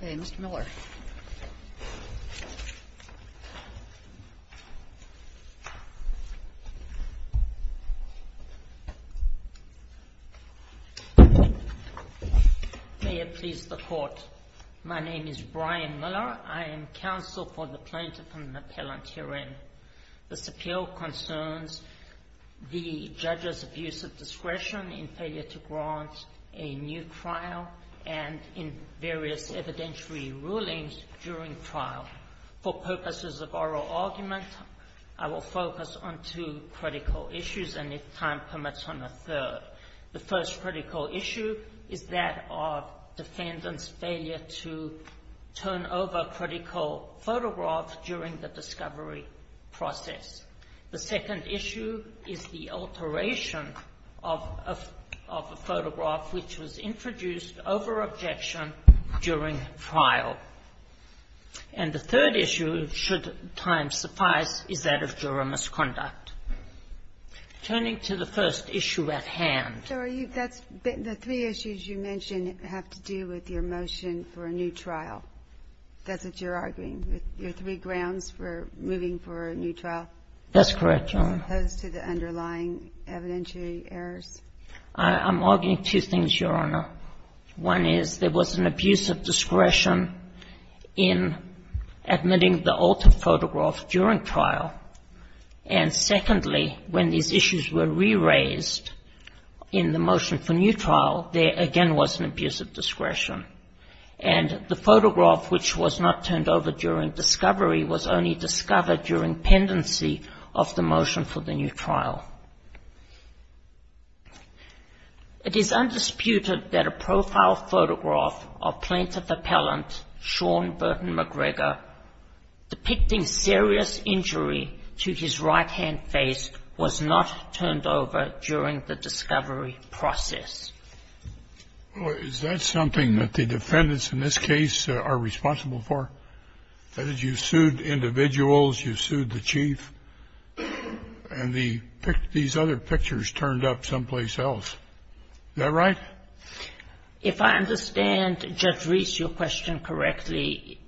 May it please the Court, my name is Brian Miller. I am counsel for the Plaintiff and the Appellant herein. This appeal concerns the judge's abuse of discretion in failure to grant a new trial and in various evidentiary rulings during trial. For purposes of oral argument, I will focus on two critical issues and, if time permits, on a third. The first critical issue is that of defendant's failure to turn over critical photographs during the trial of a photograph which was introduced over objection during trial. And the third issue, should time suffice, is that of juror misconduct. Turning to the first issue at hand. GINSBURG So are you – that's – the three issues you mentioned have to do with your motion for a new trial. That's what you're arguing, with your three grounds for moving for a new trial? COLLINS That's correct, Your Honor. GINSBURG As opposed to the underlying evidentiary errors? COLLINS I'm arguing two things, Your Honor. One is there was an abuse of discretion in admitting the altered photograph during trial. And secondly, when these issues were re-raised in the motion for new trial, there again was an abuse of discretion. And the photograph which was not turned over during discovery was only discovered during pendency of the motion for the new trial. It is undisputed that a profile photograph of plaintiff appellant Sean Burton McGregor depicting serious injury to his right-hand face was not turned over during the discovery GENERAL VERRILLI Is that something that the defendants in this case are responsible for? That is, you've sued individuals, you've sued the chief, and these other pictures turned up someplace else. Is that right? GINSBURG If I understand, Judge Reese, your question correctly,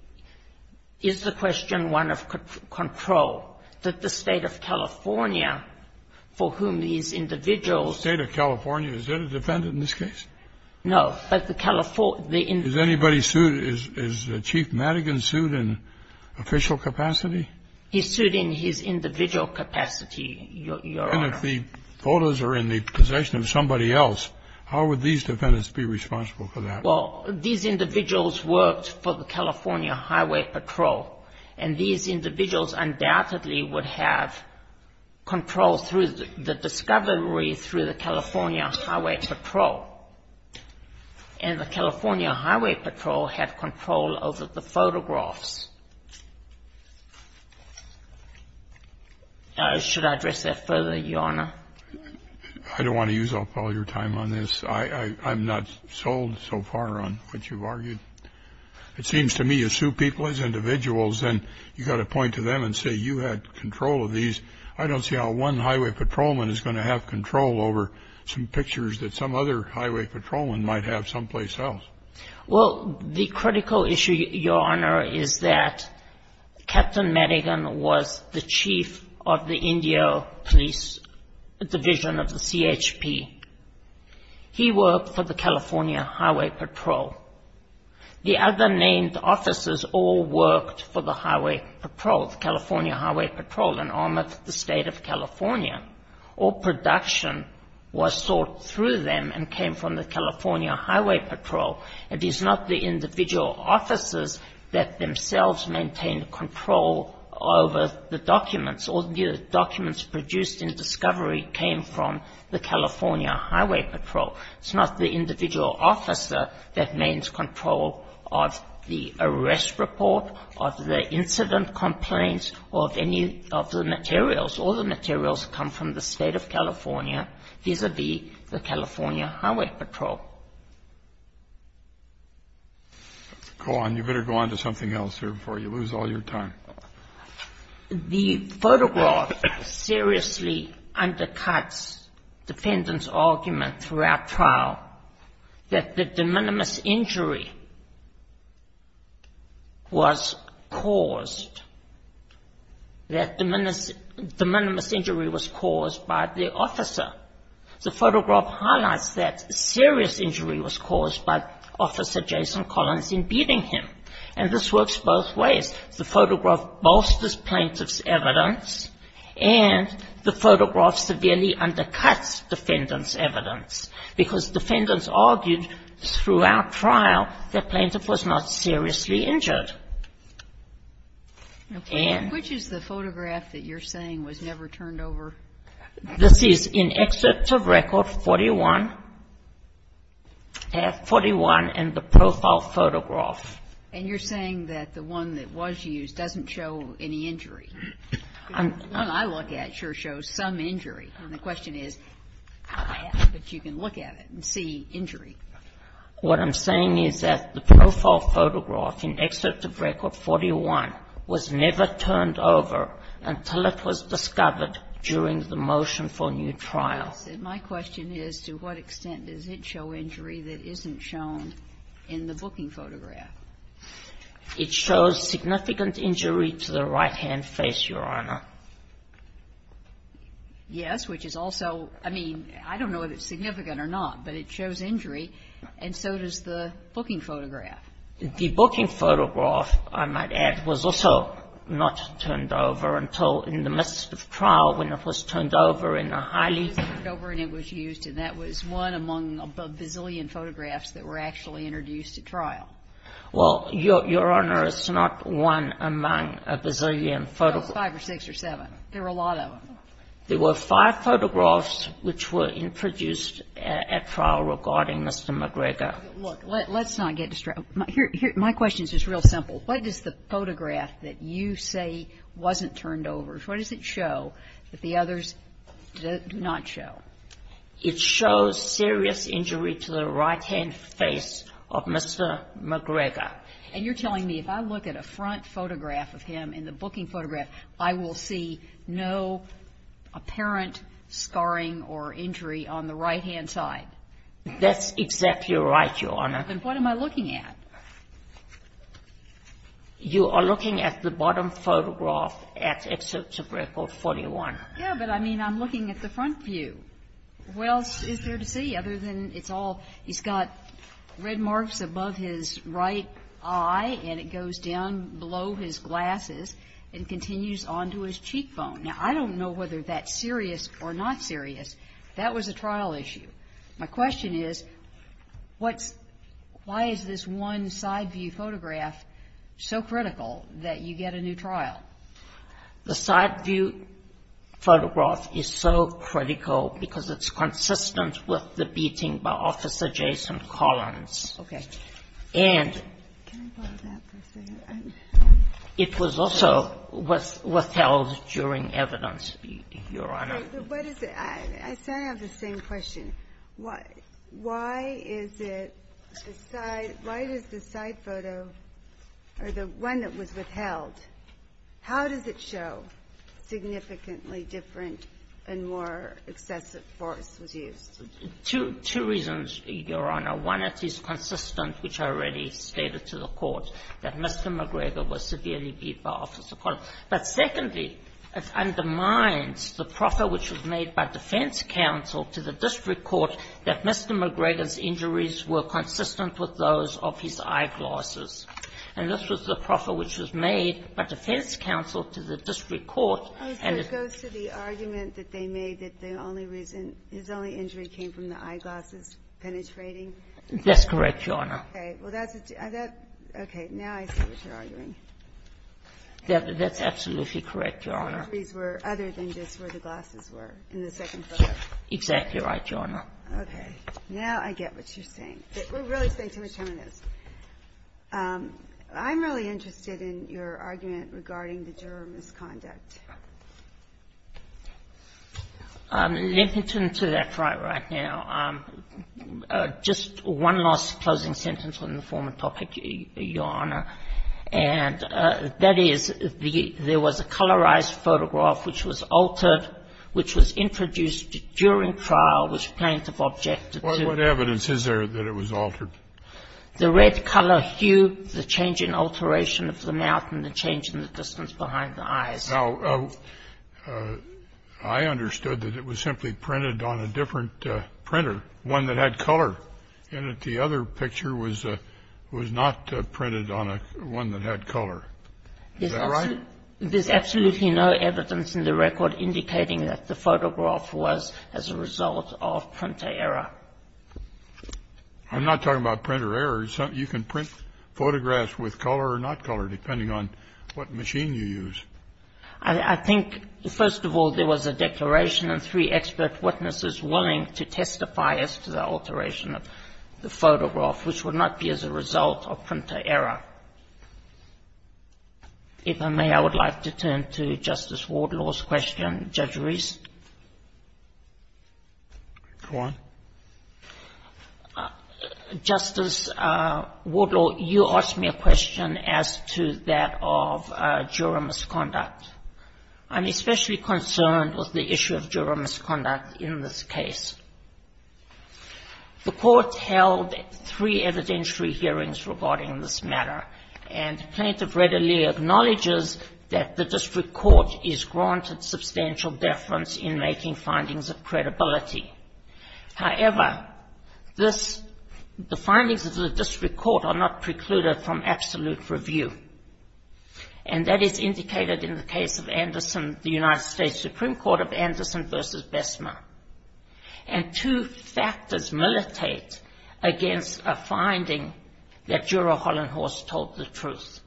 is the question one of control? That the State of California, for whom these individuals GENERAL VERRILLI The State of California, is that a defendant in this case? GINSBURG No, but the California GENERAL VERRILLI Is anybody sued? Is Chief Madigan sued? GINSBURG Is he sued in official capacity? GINSBURG He's sued in his individual capacity, Your Honor. GENERAL VERRILLI And if the photos are in the possession of somebody else, how would these defendants be responsible for that? GINSBURG Well, these individuals worked for the California Highway Patrol. And these individuals undoubtedly would have control through the discovery through the California Highway Patrol. And the California Highway Patrol had control over the photographs. Should I address that further, Your Honor? GENERAL VERRILLI I don't want to use up all your time on this. I'm not sold so far on what you've argued. It seems to me you sue people as individuals, and you've got to point to them and say, you had control of these. I don't see how one highway patrolman is going to have control over some pictures that some other highway patrolman might have someplace else. GINSBURG Well, the critical issue, Your Honor, is that Captain Madigan was the chief of the Indio Police Division of the CHP. He worked for the California Highway Patrol. The other named officers all worked for the highway patrol, the California Highway Patrol, and armored the State of California. All production was sought through them and came from the California Highway Patrol. It is not the individual officers that themselves maintained control over the documents. All the documents produced in discovery came from the California Highway Patrol. It's not the individual officer that maintains control of the arrest report, of the incident complaints, or of any of the materials. All the materials come from the State of California, vis-à-vis the California Highway Patrol. JUSTICE ALITO Go on. You'd better go on to something else here before you lose all your time. GINSBURG The photograph seriously undercuts defendant's argument throughout trial that the de minimis injury was caused, that de minimis injury was caused by the officer. The photograph highlights that serious injury was caused by Officer Jason Collins in beating him. And this works both ways. The photograph bolsters plaintiff's evidence and the photograph severely undercuts defendant's evidence, because defendants argued throughout trial that plaintiff was not seriously injured. And ---- GINSBURG Which is the photograph that you're saying was never turned over? GINSBURG This is in excerpt of Record 41, 41 in the profile photograph. GINSBURG And you're saying that the one that was used doesn't show any injury. GINSBURG The one I look at sure shows some injury. And the question is, but you can look at it and see injury. GINSBURG What I'm saying is that the profile photograph in excerpt of Record 41 was never turned over until it was discovered during the motion for new trial. GINSBURG Yes. And my question is, to what extent does it show injury that isn't shown in the booking photograph? GINSBURG It shows significant injury to the right-hand face, Your Honor. GINSBURG Yes, which is also, I mean, I don't know if it's significant or not, but it shows injury, and so does the booking photograph. GINSBURG The booking photograph, I might add, was also not turned over until in the midst of trial when it was turned over in a highly ---- GINSBURG It was turned over and it was used, and that was one among a bazillion photographs that were actually introduced at trial. GINSBURG Well, Your Honor, it's not one among a bazillion photographs. It was five or six or seven. There were a lot of them. GINSBURG There were five photographs which were introduced at trial regarding Mr. McGregor. GINSBURG Look, let's not get distraught. My question is just real simple. What does the photograph that you say wasn't turned over, what does it show that the others do not show? GINSBURG It shows serious injury to the right-hand face of Mr. McGregor. And you're telling me if I look at a front photograph of him in the booking photograph, I will see no apparent scarring or injury on the right-hand side? GINSBURG That's exactly right, Your Honor. GINSBURG Then what am I looking at? GINSBURG You are looking at the bottom photograph at Excerpt of Record 41. GINSBURG Yeah, but I mean I'm looking at the front view. Well, it's there to see other than it's all, he's got red marks above his right eye and it goes down below his glasses and continues on to his cheekbone. Now, I don't know whether that's serious or not serious. That was a trial issue. My question is why is this one side view photograph so critical that you get a new trial? GINSBURG The side view photograph is so critical because it's consistent with the beating by Officer Jason Collins. And it was also withheld during evidence, Your Honor. GINSBURG I said I have the same question. Why is it the side photo or the one that was withheld, how does it show significantly different and more excessive force was used? GINSBURG Two reasons, Your Honor. One, it is consistent, which I already stated to the Court, that Mr. McGregor was severely beaten by Officer Collins. But secondly, it undermines the proffer which was made by defense counsel to the district court that Mr. McGregor's injuries were consistent with those of his eyeglasses. And this was the proffer which was made by defense counsel to the district court and it goes to the argument that they made that the only reason, his only injury came from the eyeglasses penetrating? GINSBURG That's correct, Your Honor. GINSBURG Okay. Well, that's the two. Okay. Now I see what you're arguing. GINSBURG That's absolutely correct, Your Honor. GINSBURG The injuries were other than just where the glasses were in the second photo. GINSBURG Exactly right, Your Honor. GINSBURG Okay. Now I get what you're saying. We're really staying too much time on this. I'm really interested in your argument regarding the juror misconduct. GINSBURG Let me turn to that right now. Just one last closing sentence on the former topic, Your Honor, and that is there was a colorized photograph which was altered, which was introduced during trial, which plaintiff objected to. Scalia What evidence is there that it was altered? GINSBURG The red color hue, the change in alteration of the mouth and the change in the distance behind the eyes. Now I understood that it was simply printed on a different printer, one that had color, and that the other picture was not printed on one that had color. Is that right? GINSBURG There's absolutely no evidence in the record indicating that the photograph was as a result of printer error. I'm not talking about printer error. You can print photographs with color or not color, depending on what machine you use. GINSBURG I think, first of all, there was a declaration and three expert witnesses willing to testify as to the alteration of the photograph, which would not be as a result of printer error. If I may, I would like to turn to Justice Wardlaw's question. Judge Reese. Go on. Justice Wardlaw, you asked me a question as to that of juror misconduct. I'm especially concerned with the issue of juror misconduct in this case. The Court held three evidentiary hearings regarding this matter, and the plaintiff readily acknowledges that the district court is granted substantial deference in making findings of credibility. However, the findings of the district court are not precluded from absolute review, and that is indicated in the case of Anderson, the United States Supreme Court, of Anderson v. Bessemer. And two factors militate against a finding that Juror Hollenhorst told the truth.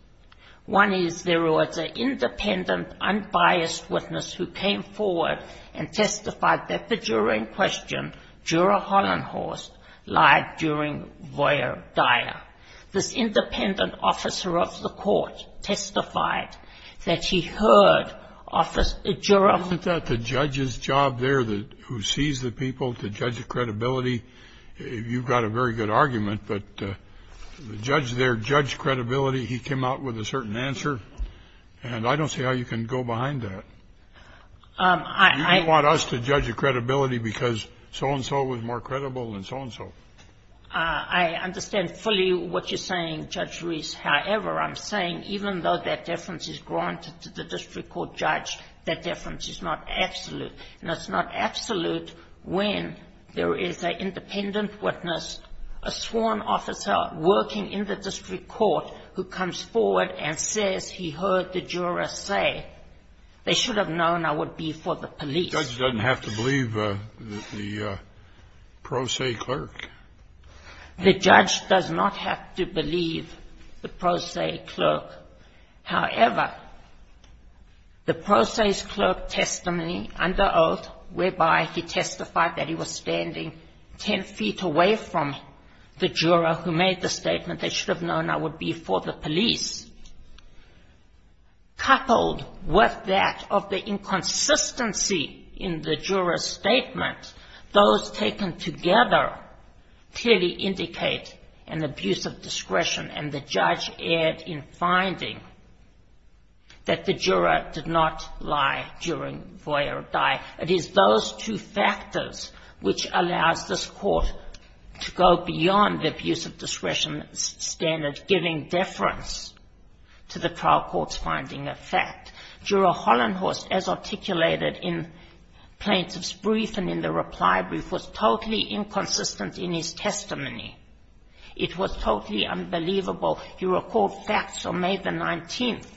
One is there was an independent, unbiased witness who came forward and testified that the juror in question, Juror Hollenhorst, lied during voyeur d'oeuvre. This independent officer of the Court testified that he heard Juror Hollenhorst's testimony. And the other factor is that the judge's job there, who sees the people to judge the credibility, you've got a very good argument, but the judge there judged credibility. He came out with a certain answer, and I don't see how you can go behind that. You don't want us to judge the credibility because so-and-so was more credible than so-and-so. I understand fully what you're saying, Judge Reese. However, I'm saying even though that difference is granted to the district court judge, that difference is not absolute. And it's not absolute when there is an independent witness, a sworn officer working in the district court who comes forward and says he heard the juror say, they should have known I would be for the police. The judge doesn't have to believe the pro se clerk. The judge does not have to believe the pro se clerk. However, the pro se clerk testimony under oath, whereby he testified that he was standing 10 feet away from the juror who made the statement, they should have known I would be for the police, coupled with that of the inconsistency in the juror's statement, those taken together clearly indicate an abuse of discretion. And the judge erred in finding that the juror did not lie during voyeur die. It is those two factors which allows this court to go beyond the abuse of discretion standard, giving deference to the trial court's finding of fact. Juror Hollenhorst, as articulated in plaintiff's brief and in the reply brief, was totally inconsistent in his testimony. It was totally unbelievable. He recalled facts on May the 19th,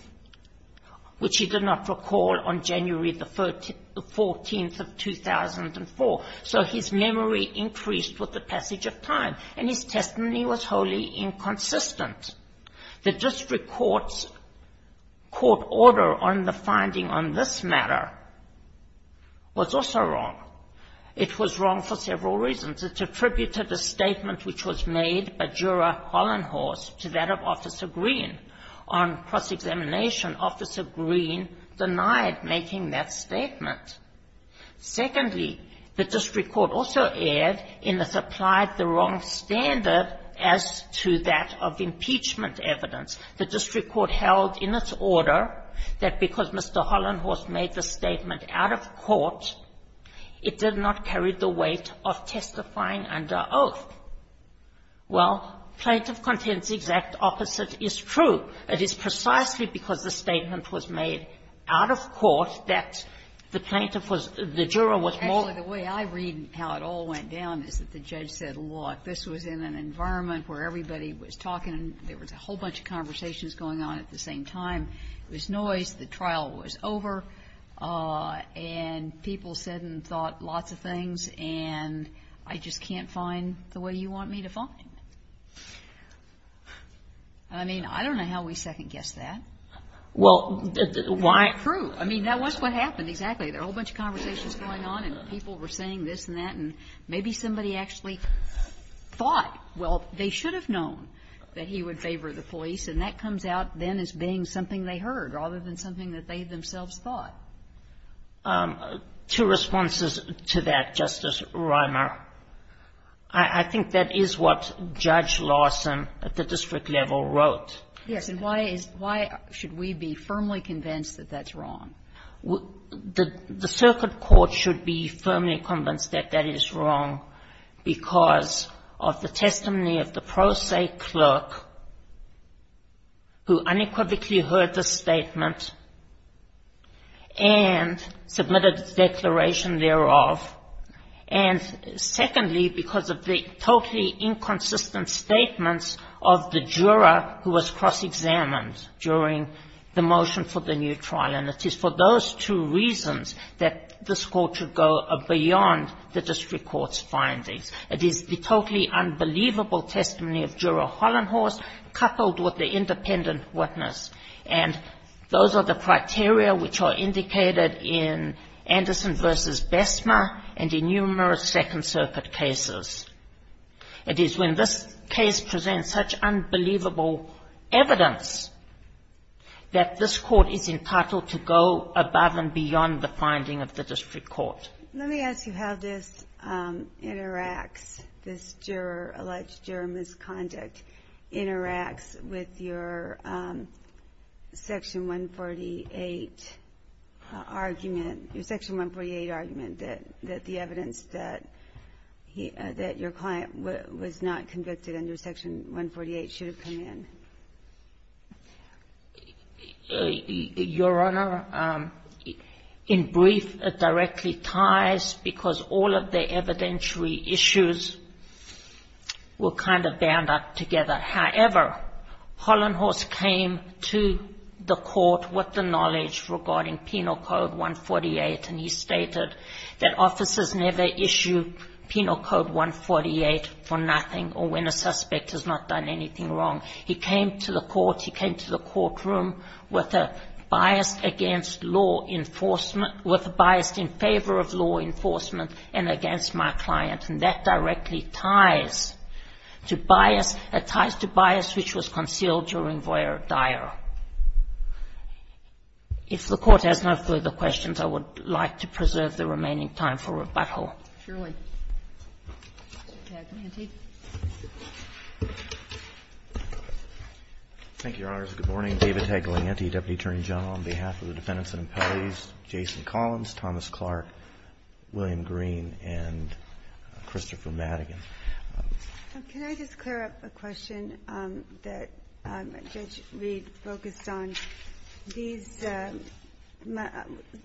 which he did not recall on January the 14th of 2004. So his memory increased with the passage of time. And his testimony was wholly inconsistent. The district court's court order on the finding on this matter was also wrong. It was wrong for several reasons. It attributed a statement which was made by juror Hollenhorst to that of Officer Green. On cross-examination, Officer Green denied making that statement. Secondly, the district court also erred in it applied the wrong standard as to that of impeachment evidence. The district court held in its order that because Mr. Hollenhorst made the statement out of court, it did not carry the weight of testifying under both. Well, plaintiff contends the exact opposite is true. It is precisely because the statement was made out of court that the plaintiff was the juror was more. Actually, the way I read how it all went down is that the judge said, look, this was in an environment where everybody was talking. There was a whole bunch of conversations going on at the same time. It was noise. The trial was over. And people said and thought lots of things, and I just can't find the way you want me to find it. I mean, I don't know how we second-guessed that. Well, why? True. I mean, that was what happened, exactly. There were a whole bunch of conversations going on, and people were saying this and that, and maybe somebody actually thought, well, they should have known that he would favor the police, and that comes out then as being something they heard rather than something that they themselves thought. Two responses to that, Justice Reimer. I think that is what Judge Larson at the district level wrote. Yes. And why is why should we be firmly convinced that that's wrong? The circuit court should be firmly convinced that that is wrong because of the testimony of the pro se clerk who unequivocally heard the statement and submitted the declaration thereof, and secondly, because of the totally inconsistent statements of the juror who was cross-examined during the motion for the new trial. And it is for those two reasons that this Court should go beyond the district court's findings. It is the totally unbelievable testimony of Juror Hollenhorst coupled with the independent witness. And those are the criteria which are indicated in Anderson v. Bessmer and in numerous Second Circuit cases. It is when this case presents such unbelievable evidence that this Court is entitled to go above and beyond the finding of the district court. Let me ask you how this interacts, this juror, alleged juror misconduct interacts with your Section 148 argument, your Section 148 argument that the evidence that your client was not convicted under Section 148 should have come in. Your Honor, in brief, it directly ties because all of the evidentiary issues were kind of bound up together. However, Hollenhorst came to the Court with the knowledge regarding Penal Code 148, and he stated that officers never issue Penal Code 148 for nothing or when a suspect has not done anything wrong. He came to the Court. He came to the courtroom with a bias against law enforcement, with a bias in favor of law enforcement and against my client. And that directly ties to bias. It ties to bias which was concealed during Voyer Dyer. If the Court has no further questions, I would like to preserve the remaining time for rebuttal. Surely. Taglianti. Thank you, Your Honors. Good morning. David Taglianti, Deputy Attorney General. On behalf of the defendants and appellees, Jason Collins, Thomas Clark, William Green, and Christopher Madigan. Can I just clear up a question that Judge Reed focused on? These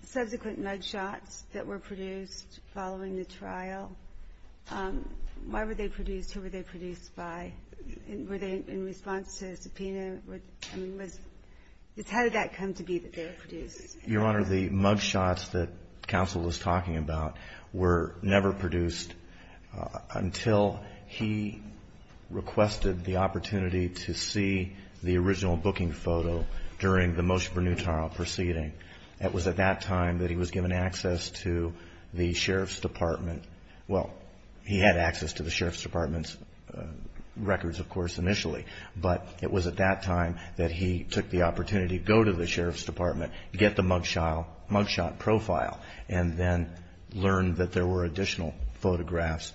subsequent mug shots that were produced following the trial, why were they produced? Who were they produced by? Were they in response to a subpoena? How did that come to be that they were produced? Your Honor, the mug shots that counsel was talking about were never produced until he requested the opportunity to see the original booking photo during the Moshe Bernutin trial proceeding. It was at that time that he was given access to the Sheriff's Department. Well, he had access to the Sheriff's Department's records, of course, initially. But it was at that time that he took the opportunity to go to the Sheriff's Department, get the mug shot profile, and then learn that there were additional photographs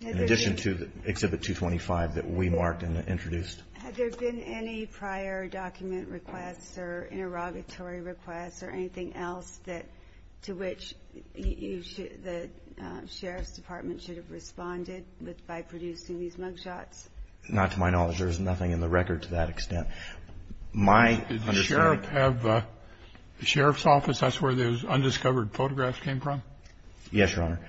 in addition to the Exhibit 225 that we marked and introduced. Had there been any prior document requests or interrogatory requests or anything else to which the Sheriff's Department should have responded by producing these mug shots? Not to my knowledge. There is nothing in the record to that extent. Did the Sheriff's Office, that's where those undiscovered photographs came from? Yes, Your Honor.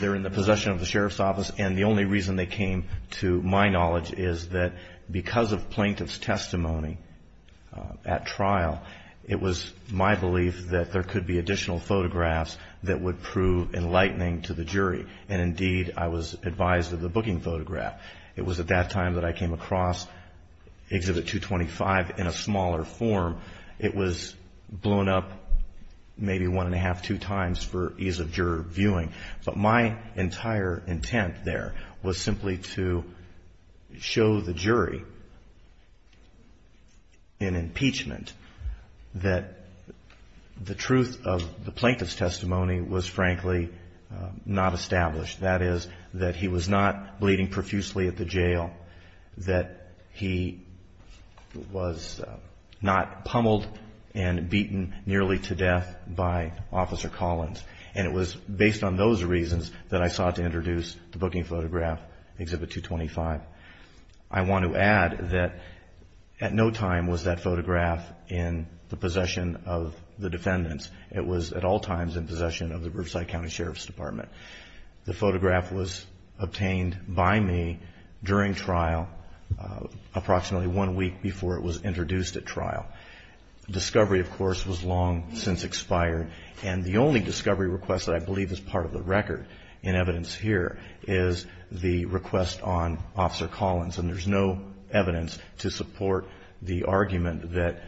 They're in the possession of the Sheriff's Office. And the only reason they came, to my knowledge, is that because of plaintiff's testimony at trial, it was my belief that there could be additional photographs that would prove enlightening to the jury. And indeed, I was advised of the booking photograph. It was at that time that I came across Exhibit 225 in a smaller form. It was blown up maybe one and a half, two times for ease of juror viewing. But my entire intent there was simply to show the jury in impeachment that the truth of the plaintiff's testimony was frankly not established. That is, that he was not bleeding profusely at the jail, that he was not pummeled and beaten nearly to death by Officer Collins. And it was based on those reasons that I sought to introduce the booking photograph, Exhibit 225. I want to add that at no time was that photograph in the possession of the defendants. It was at all times in possession of the Riverside County Sheriff's Department. The photograph was obtained by me during trial approximately one week before it was introduced at trial. Discovery, of course, was long since expired. And the only discovery request that I believe is part of the record in evidence here is the request on Officer Collins. And there's no evidence to support the argument that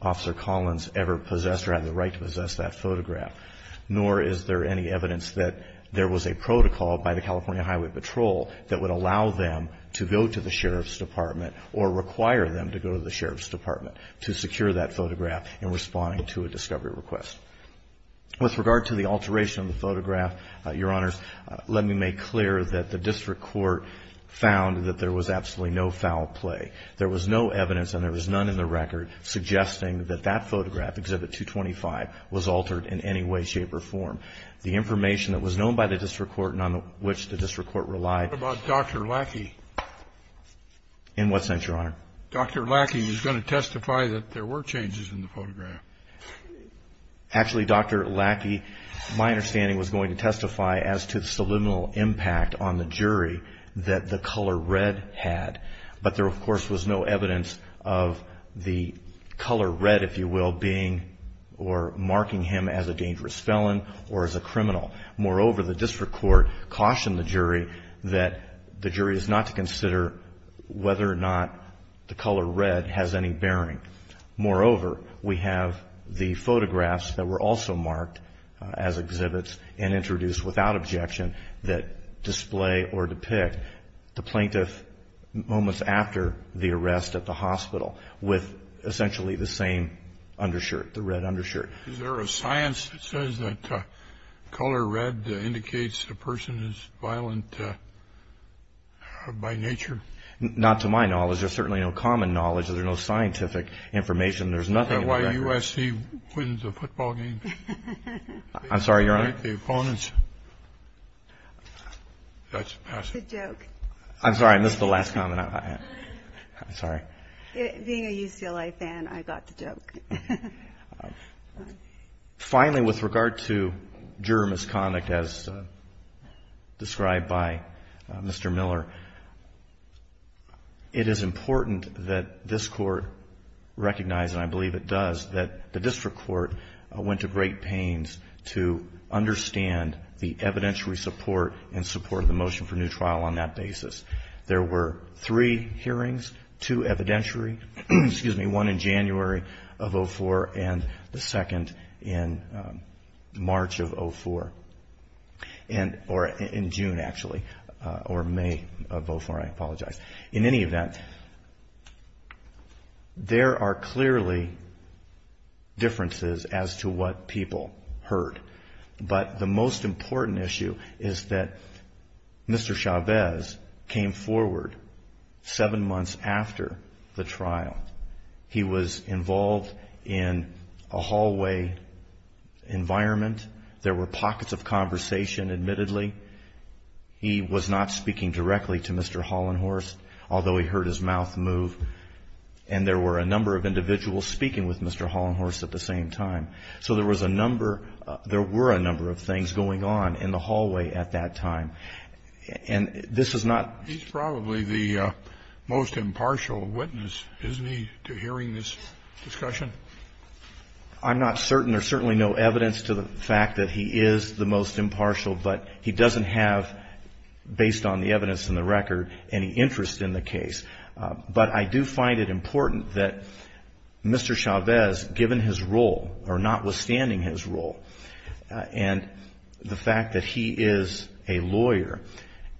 Officer Collins ever possessed or had the right to possess that photograph, nor is there any evidence that there was a protocol by the California Highway Patrol that would allow them to go to the Sheriff's Department to secure that photograph in responding to a discovery request. With regard to the alteration of the photograph, Your Honors, let me make clear that the district court found that there was absolutely no foul play. There was no evidence, and there was none in the record, suggesting that that photograph, Exhibit 225, was altered in any way, shape or form. The information that was known by the district court and on which the district court relied. What about Dr. Lackey? In what sense, Your Honor? Dr. Lackey was going to testify that there were changes in the photograph. Actually, Dr. Lackey, my understanding, was going to testify as to the subliminal impact on the jury that the color red had. But there, of course, was no evidence of the color red, if you will, being or marking him as a dangerous felon or as a criminal. Moreover, the district court cautioned the jury that the jury is not to consider whether or not the color red has any bearing. Moreover, we have the photographs that were also marked as exhibits and introduced without objection that display or depict the plaintiff moments after the arrest at the hospital with essentially the same undershirt, the red undershirt. Is there a science that says that color red indicates a person is violent by nature? Not to my knowledge. There's certainly no common knowledge. There's no scientific information. There's nothing in the record. Is that why USC wins the football game? I'm sorry, Your Honor? They fight the opponents. That's a pass. It's a joke. I'm sorry. And this is the last comment I have. I'm sorry. Being a UCLA fan, I got the joke. Finally, with regard to juror misconduct as described by Mr. Miller, it is important that this Court recognize, and I believe it does, that the district court went to great pains to understand the evidentiary support and support of the motion for new trial on that basis. There were three hearings, two evidentiary, excuse me, one in January of 2004 and the second in March of 2004, or in June, actually, or May of 2004, I apologize. In any event, there are clearly differences as to what people heard, but the most important issue is that Mr. Chavez came forward seven months after the trial. He was involved in a hallway environment. There were pockets of conversation, admittedly. He was not speaking directly to Mr. Hollenhorst, although he heard his mouth move, and there were a number of individuals speaking with Mr. Hollenhorst at the same time. So there was a number, there were a number of things going on in the hallway at that time, and this is not. He's probably the most impartial witness, isn't he, to hearing this discussion? I'm not certain. There's certainly no evidence to the fact that he is the most impartial, but he doesn't have, based on the evidence and the record, any interest in the case. But I do find it important that Mr. Chavez, given his role, or notwithstanding his role, and the fact that he is a lawyer,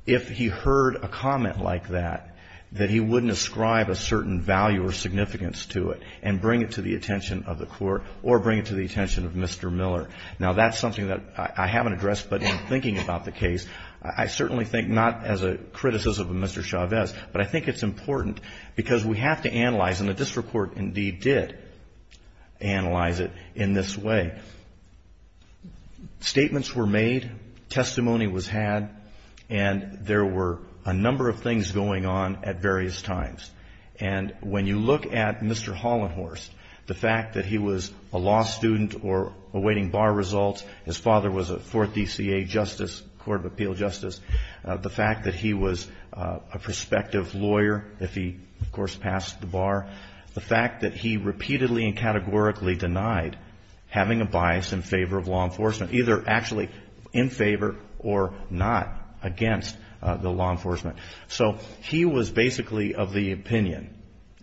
if he heard a comment like that, that he wouldn't ascribe a certain value or significance to it and bring it to the attention of the court or bring it to the attention of Mr. Miller. Now, that's something that I haven't addressed, but in thinking about the case, I certainly think not as a criticism of Mr. Chavez, but I think it's important, because we have to analyze, and the district court indeed did analyze it in this way. Statements were made, testimony was had, and there were a number of things going on at various times. And when you look at Mr. Hollenhorst, the fact that he was a law student or waiting bar results, his father was a fourth DCA justice, court of appeal justice, the fact that he was a prospective lawyer, if he, of course, passed the bar, the fact that he repeatedly and categorically denied having a bias in favor of law enforcement, either actually in favor or not against the law enforcement. So he was basically of the opinion.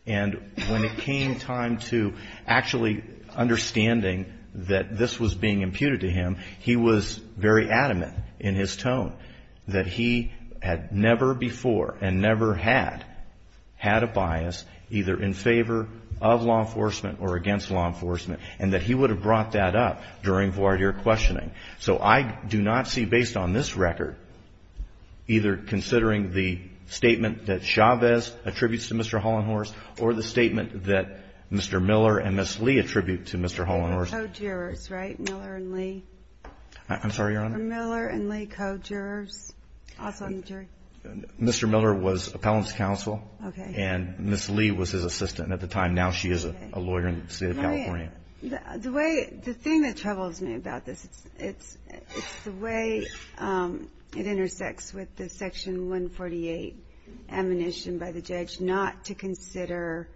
And when it came time to actually understanding that this was being imputed to him, he was very adamant in his tone that he had never before and never had had a bias, either in favor of law enforcement or against law enforcement, and that he would have brought that up during voir dire questioning. So I do not see, based on this record, either considering the statement that Chavez attributes to Mr. Hollenhorst or the statement that Mr. Miller and Ms. Lee attribute to Mr. Hollenhorst. I'm sorry, Your Honor. Mr. Miller was appellant's counsel, and Ms. Lee was his assistant at the time. Now she is a lawyer in the State of California. The thing that troubles me about this, it's the way it intersects with the Section 148 ammunition by the judge not to consider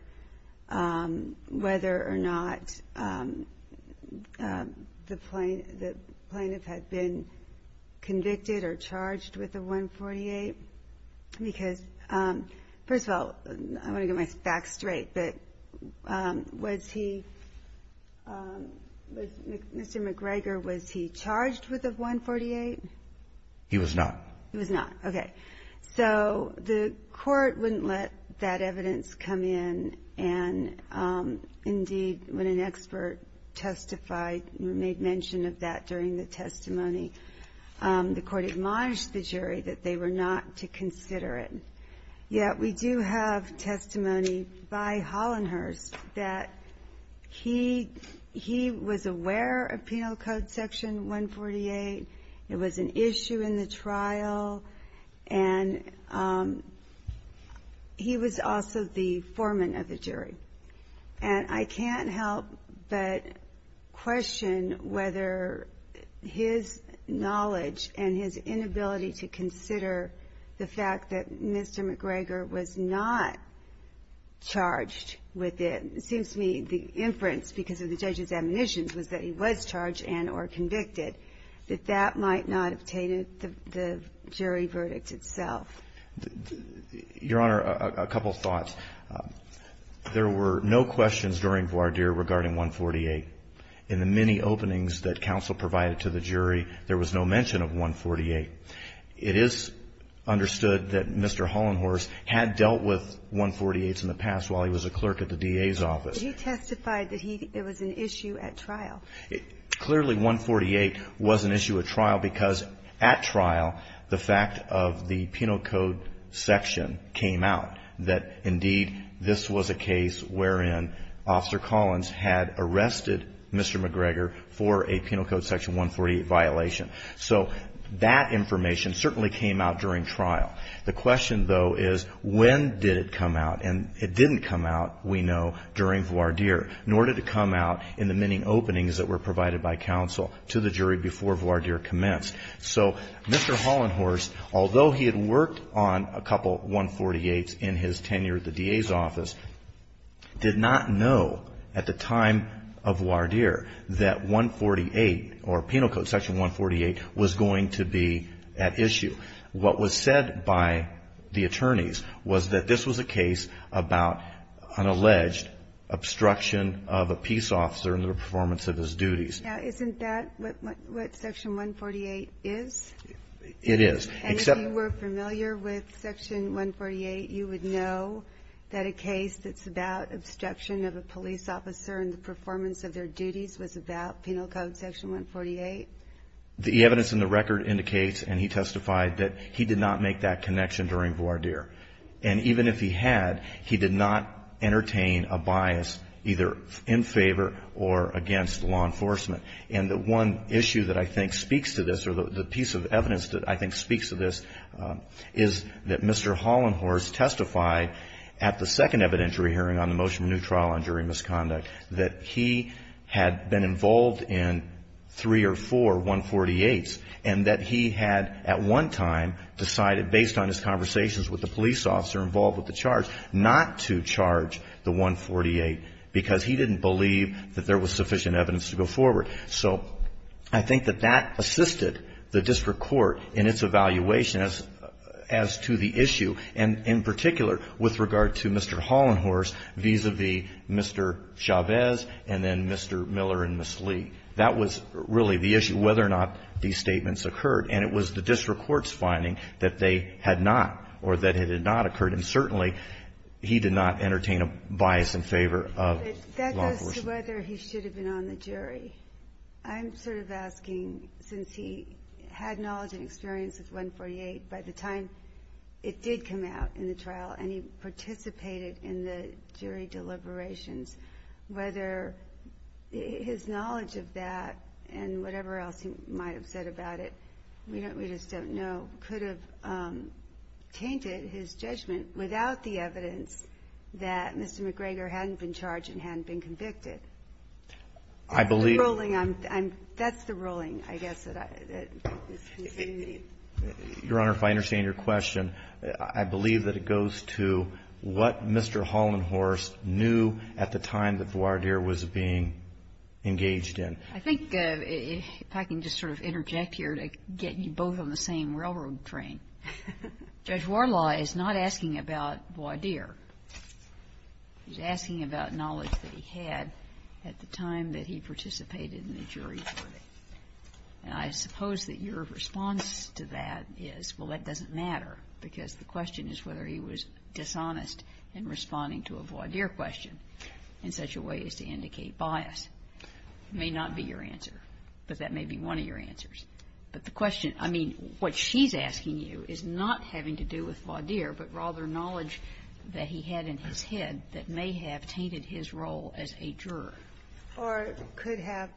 whether or not the plaintiff had been convicted or charged with a 148, because, first of all, I want to get my facts straight, but was he, Mr. McGregor, was he charged with a 148? He was not. He was not. Okay. So the Court wouldn't let that evidence come in, and indeed, when an expert testified, made mention of that during the testimony, the Court admonished the jury that they were not to consider it. Yet we do have testimony by Hollenhorst that he was aware of Penal Code Section 148. It was an issue in the trial, and he was also the foreman of the jury. And I can't help but question whether his knowledge and his inability to consider the fact that Mr. McGregor was not charged with it. It seems to me the inference, because of the judge's admonitions, was that he was charged and or convicted, that that might not have tainted the jury verdict itself. Your Honor, a couple of thoughts. There were no questions during voir dire regarding 148. In the many openings that counsel provided to the jury, there was no mention of 148. It is understood that Mr. Hollenhorst had dealt with 148s in the past while he was a clerk at the DA's office. He testified that it was an issue at trial. Clearly, 148 was an issue at trial, because at trial, the fact of the Penal Code Section came out, that indeed this was a case wherein Officer Collins had arrested Mr. McGregor for a Penal Code Section 148 violation. So that information certainly came out during trial. The question, though, is when did it come out? And it didn't come out, we know, during voir dire, nor did it come out in the many openings that were provided by counsel to the jury before voir dire commenced. So Mr. Hollenhorst, although he had worked on a couple 148s in his tenure at the DA's office, did not know at the time of voir dire that 148, or Penal Code Section 148, was going to be at issue. What was said by the attorneys was that this was a case about an alleged obstruction of a peace officer in the performance of his duties. And if you were familiar with Section 148, you would know that a case that's about obstruction of a police officer in the performance of their duties was about Penal Code Section 148? The evidence in the record indicates, and he testified, that he did not make that connection during voir dire. And even if he had, he did not entertain a bias either in favor or against law enforcement. And the one issue that I think speaks to this, or the piece of evidence that I think speaks to this, is that Mr. Hollenhorst testified at the second evidentiary hearing on the motion of new trial on jury misconduct, that he had been involved in three or four 148s, and that he had at one time decided, based on his conversations with the police officer involved with the charge, not to charge the 148, because he didn't believe that there was sufficient evidence to go forward. So I think that that assisted the district court in its evaluation as to the issue, and in particular with regard to Mr. Hollenhorst vis-à-vis Mr. Chavez and then Mr. Miller and Ms. Lee. That was really the issue, whether or not these statements occurred. And it was the district court's finding that they had not, or that it had not occurred. And certainly he did not entertain a bias in favor of law enforcement. That goes to whether he should have been on the jury. I'm sort of asking, since he had knowledge and experience with 148, by the time it did come out in the trial, and he participated in the jury deliberations, whether his knowledge of that, and whatever else he might have said about it, we just don't know, could have tainted his judgment without the evidence that Mr. McGregor hadn't been charged and hadn't been convicted. That's the ruling, I guess. Your Honor, if I understand your question, I believe that it goes to what Mr. Hollenhorst knew at the time that he participated in the jury. And I suppose that your response to that is, well, that doesn't matter, because the question is whether he was dishonest in responding to a voir dire question in such a way as to indicate bias. It may not be your answer. But that may be one of your answers. But the question, I mean, what she's asking you is not having to do with voir dire, but rather knowledge that he had in his head that may have tainted his role as a juror. Or could have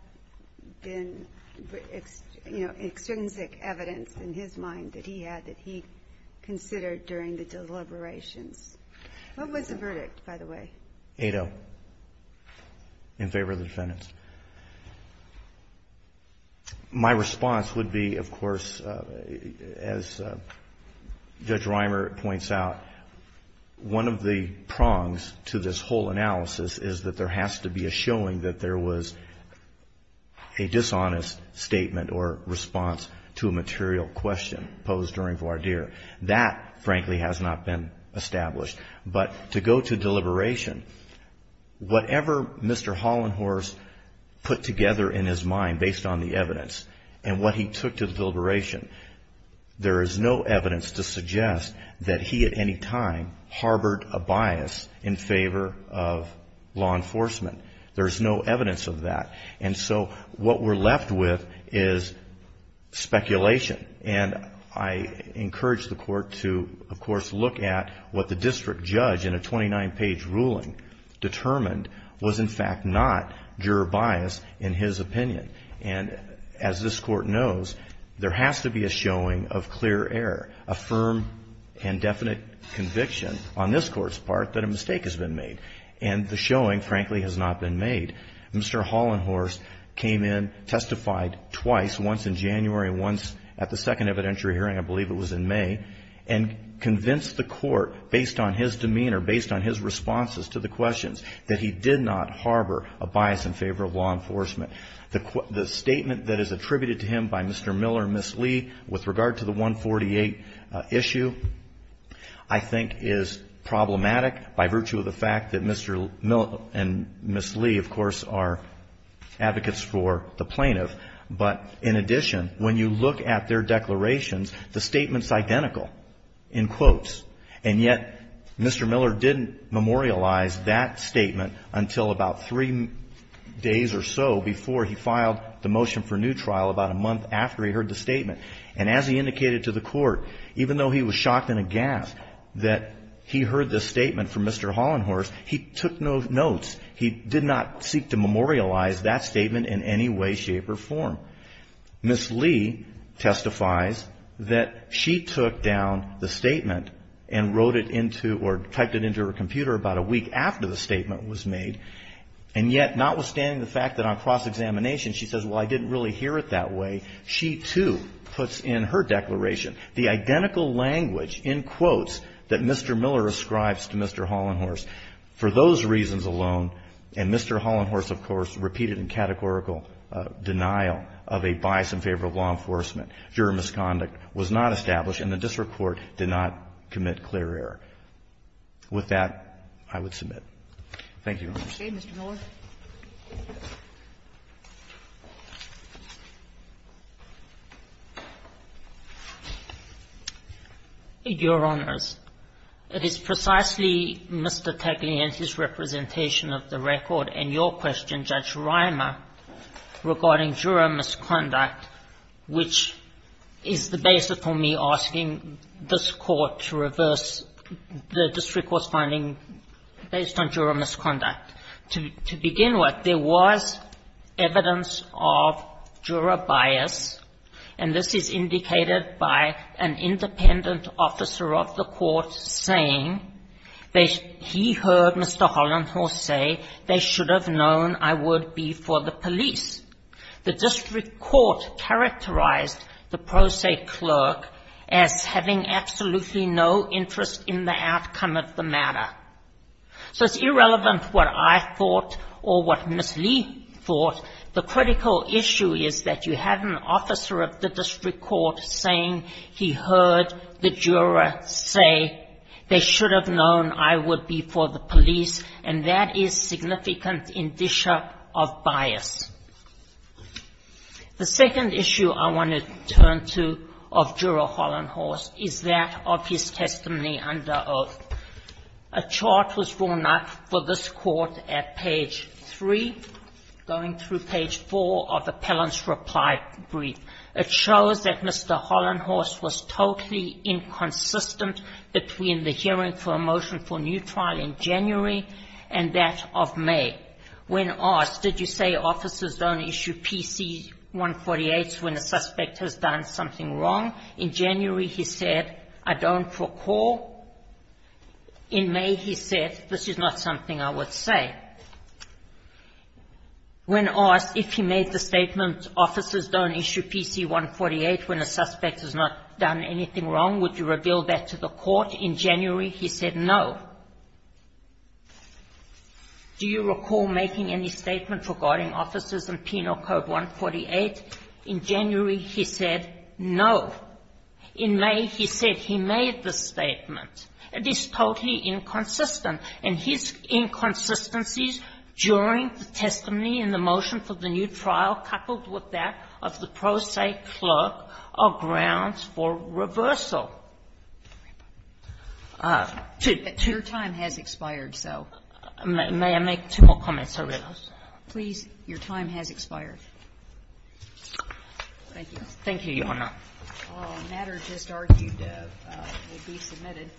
been, you know, extrinsic evidence in his mind that he had that he considered during the deliberations. What was the verdict, by the way? Ado, in favor of the defendants. My response would be, of course, as Judge Reimer points out, one of the prongs to this whole analysis is that there has to be a showing that there was a dishonest statement or response to a material question posed during voir dire. That, frankly, has not been established. But to go to deliberation, whatever Mr. Hollenhorst put together in his mind based on the evidence and what he took to the deliberation, there is no evidence to suggest that he at any time harbored a bias in favor of law enforcement. There's no evidence of that. And so what we're left with is speculation. And I encourage the Court to, of course, look at what the district judge in a 29-page ruling determined was, in fact, not juror bias in his opinion. And as this Court knows, there has to be a showing of clear error, a firm and definite conviction on this Court's part that a mistake has been made. And the showing, frankly, has not been made. Mr. Hollenhorst came in, testified twice, once in January and once at the second evidentiary hearing, I believe it was in May, and convinced the Court, based on his demeanor, based on his responses to the questions, that he did not harbor a bias in favor of law enforcement. The statement that is attributed to him by Mr. Miller and Ms. Lee with regard to the 148 issue, I think, is problematic by virtue of the fact that Mr. Miller and Ms. Lee, of course, are advocates for the plaintiff. But in addition, when you look at their declarations, the statement's identical in quotes. And yet Mr. Miller didn't memorialize that statement until about three days or so before he filed the motion for new trial, about a month after he heard the statement. And as he indicated to the Court, even though he was shocked and aghast that he heard this statement from Mr. Hollenhorst, he took no notes. He did not seek to memorialize that statement in any way, shape or form. Ms. Lee testifies that she took down the statement and wrote it into or typed it into her computer about a week after the statement was made. And yet, notwithstanding the fact that on cross-examination she says, well, I didn't really hear it that way, she, too, puts in her declaration the identical language in quotes that Mr. Miller ascribes to Mr. Hollenhorst. For those reasons alone, and Mr. Hollenhorst, of course, repeated in categorical denial of a bias in favor of law enforcement, juror misconduct was not established and the district court did not commit clear error. With that, I would submit. Thank you, Your Honor. Thank you, Mr. Miller. Your Honors, it is precisely Mr. Taglianti's representation of the record and your question, Judge Reimer, regarding juror misconduct, which is the basis for me asking this to begin with, there was evidence of juror bias, and this is indicated by an independent officer of the court saying that he heard Mr. Hollenhorst say they should have known I would be for the police. The district court characterized the pro se clerk as having absolutely no interest in the outcome of the matter. So it's irrelevant what I thought or what Ms. Lee thought. The critical issue is that you have an officer of the district court saying he heard the juror say they should have known I would be for the police, and that is significant indicia of bias. The second issue I want to turn to of juror Hollenhorst is that of his testimony under oath. The chart was drawn up for this court at page 3, going through page 4 of the Pelham's reply brief. It shows that Mr. Hollenhorst was totally inconsistent between the hearing for a motion for new trial in January and that of May. When asked, did you say officers don't issue PC 148s when a suspect has done something wrong, in January he said, I don't recall, in May he said, this is not something I would say. When asked if he made the statement officers don't issue PC 148 when a suspect has not done anything wrong, would you reveal that to the court, in January he said no. Do you recall making any statement regarding officers and penal code 148? In January he said no. In May he said he made the statement. It is totally inconsistent. And his inconsistencies during the testimony in the motion for the new trial, coupled with that of the pro se clerk, are grounds for reversal. Two to two. Your time has expired, so. May I make two more comments? I realize. Please, your time has expired. Thank you. Thank you, Your Honor. A matter just argued to be submitted.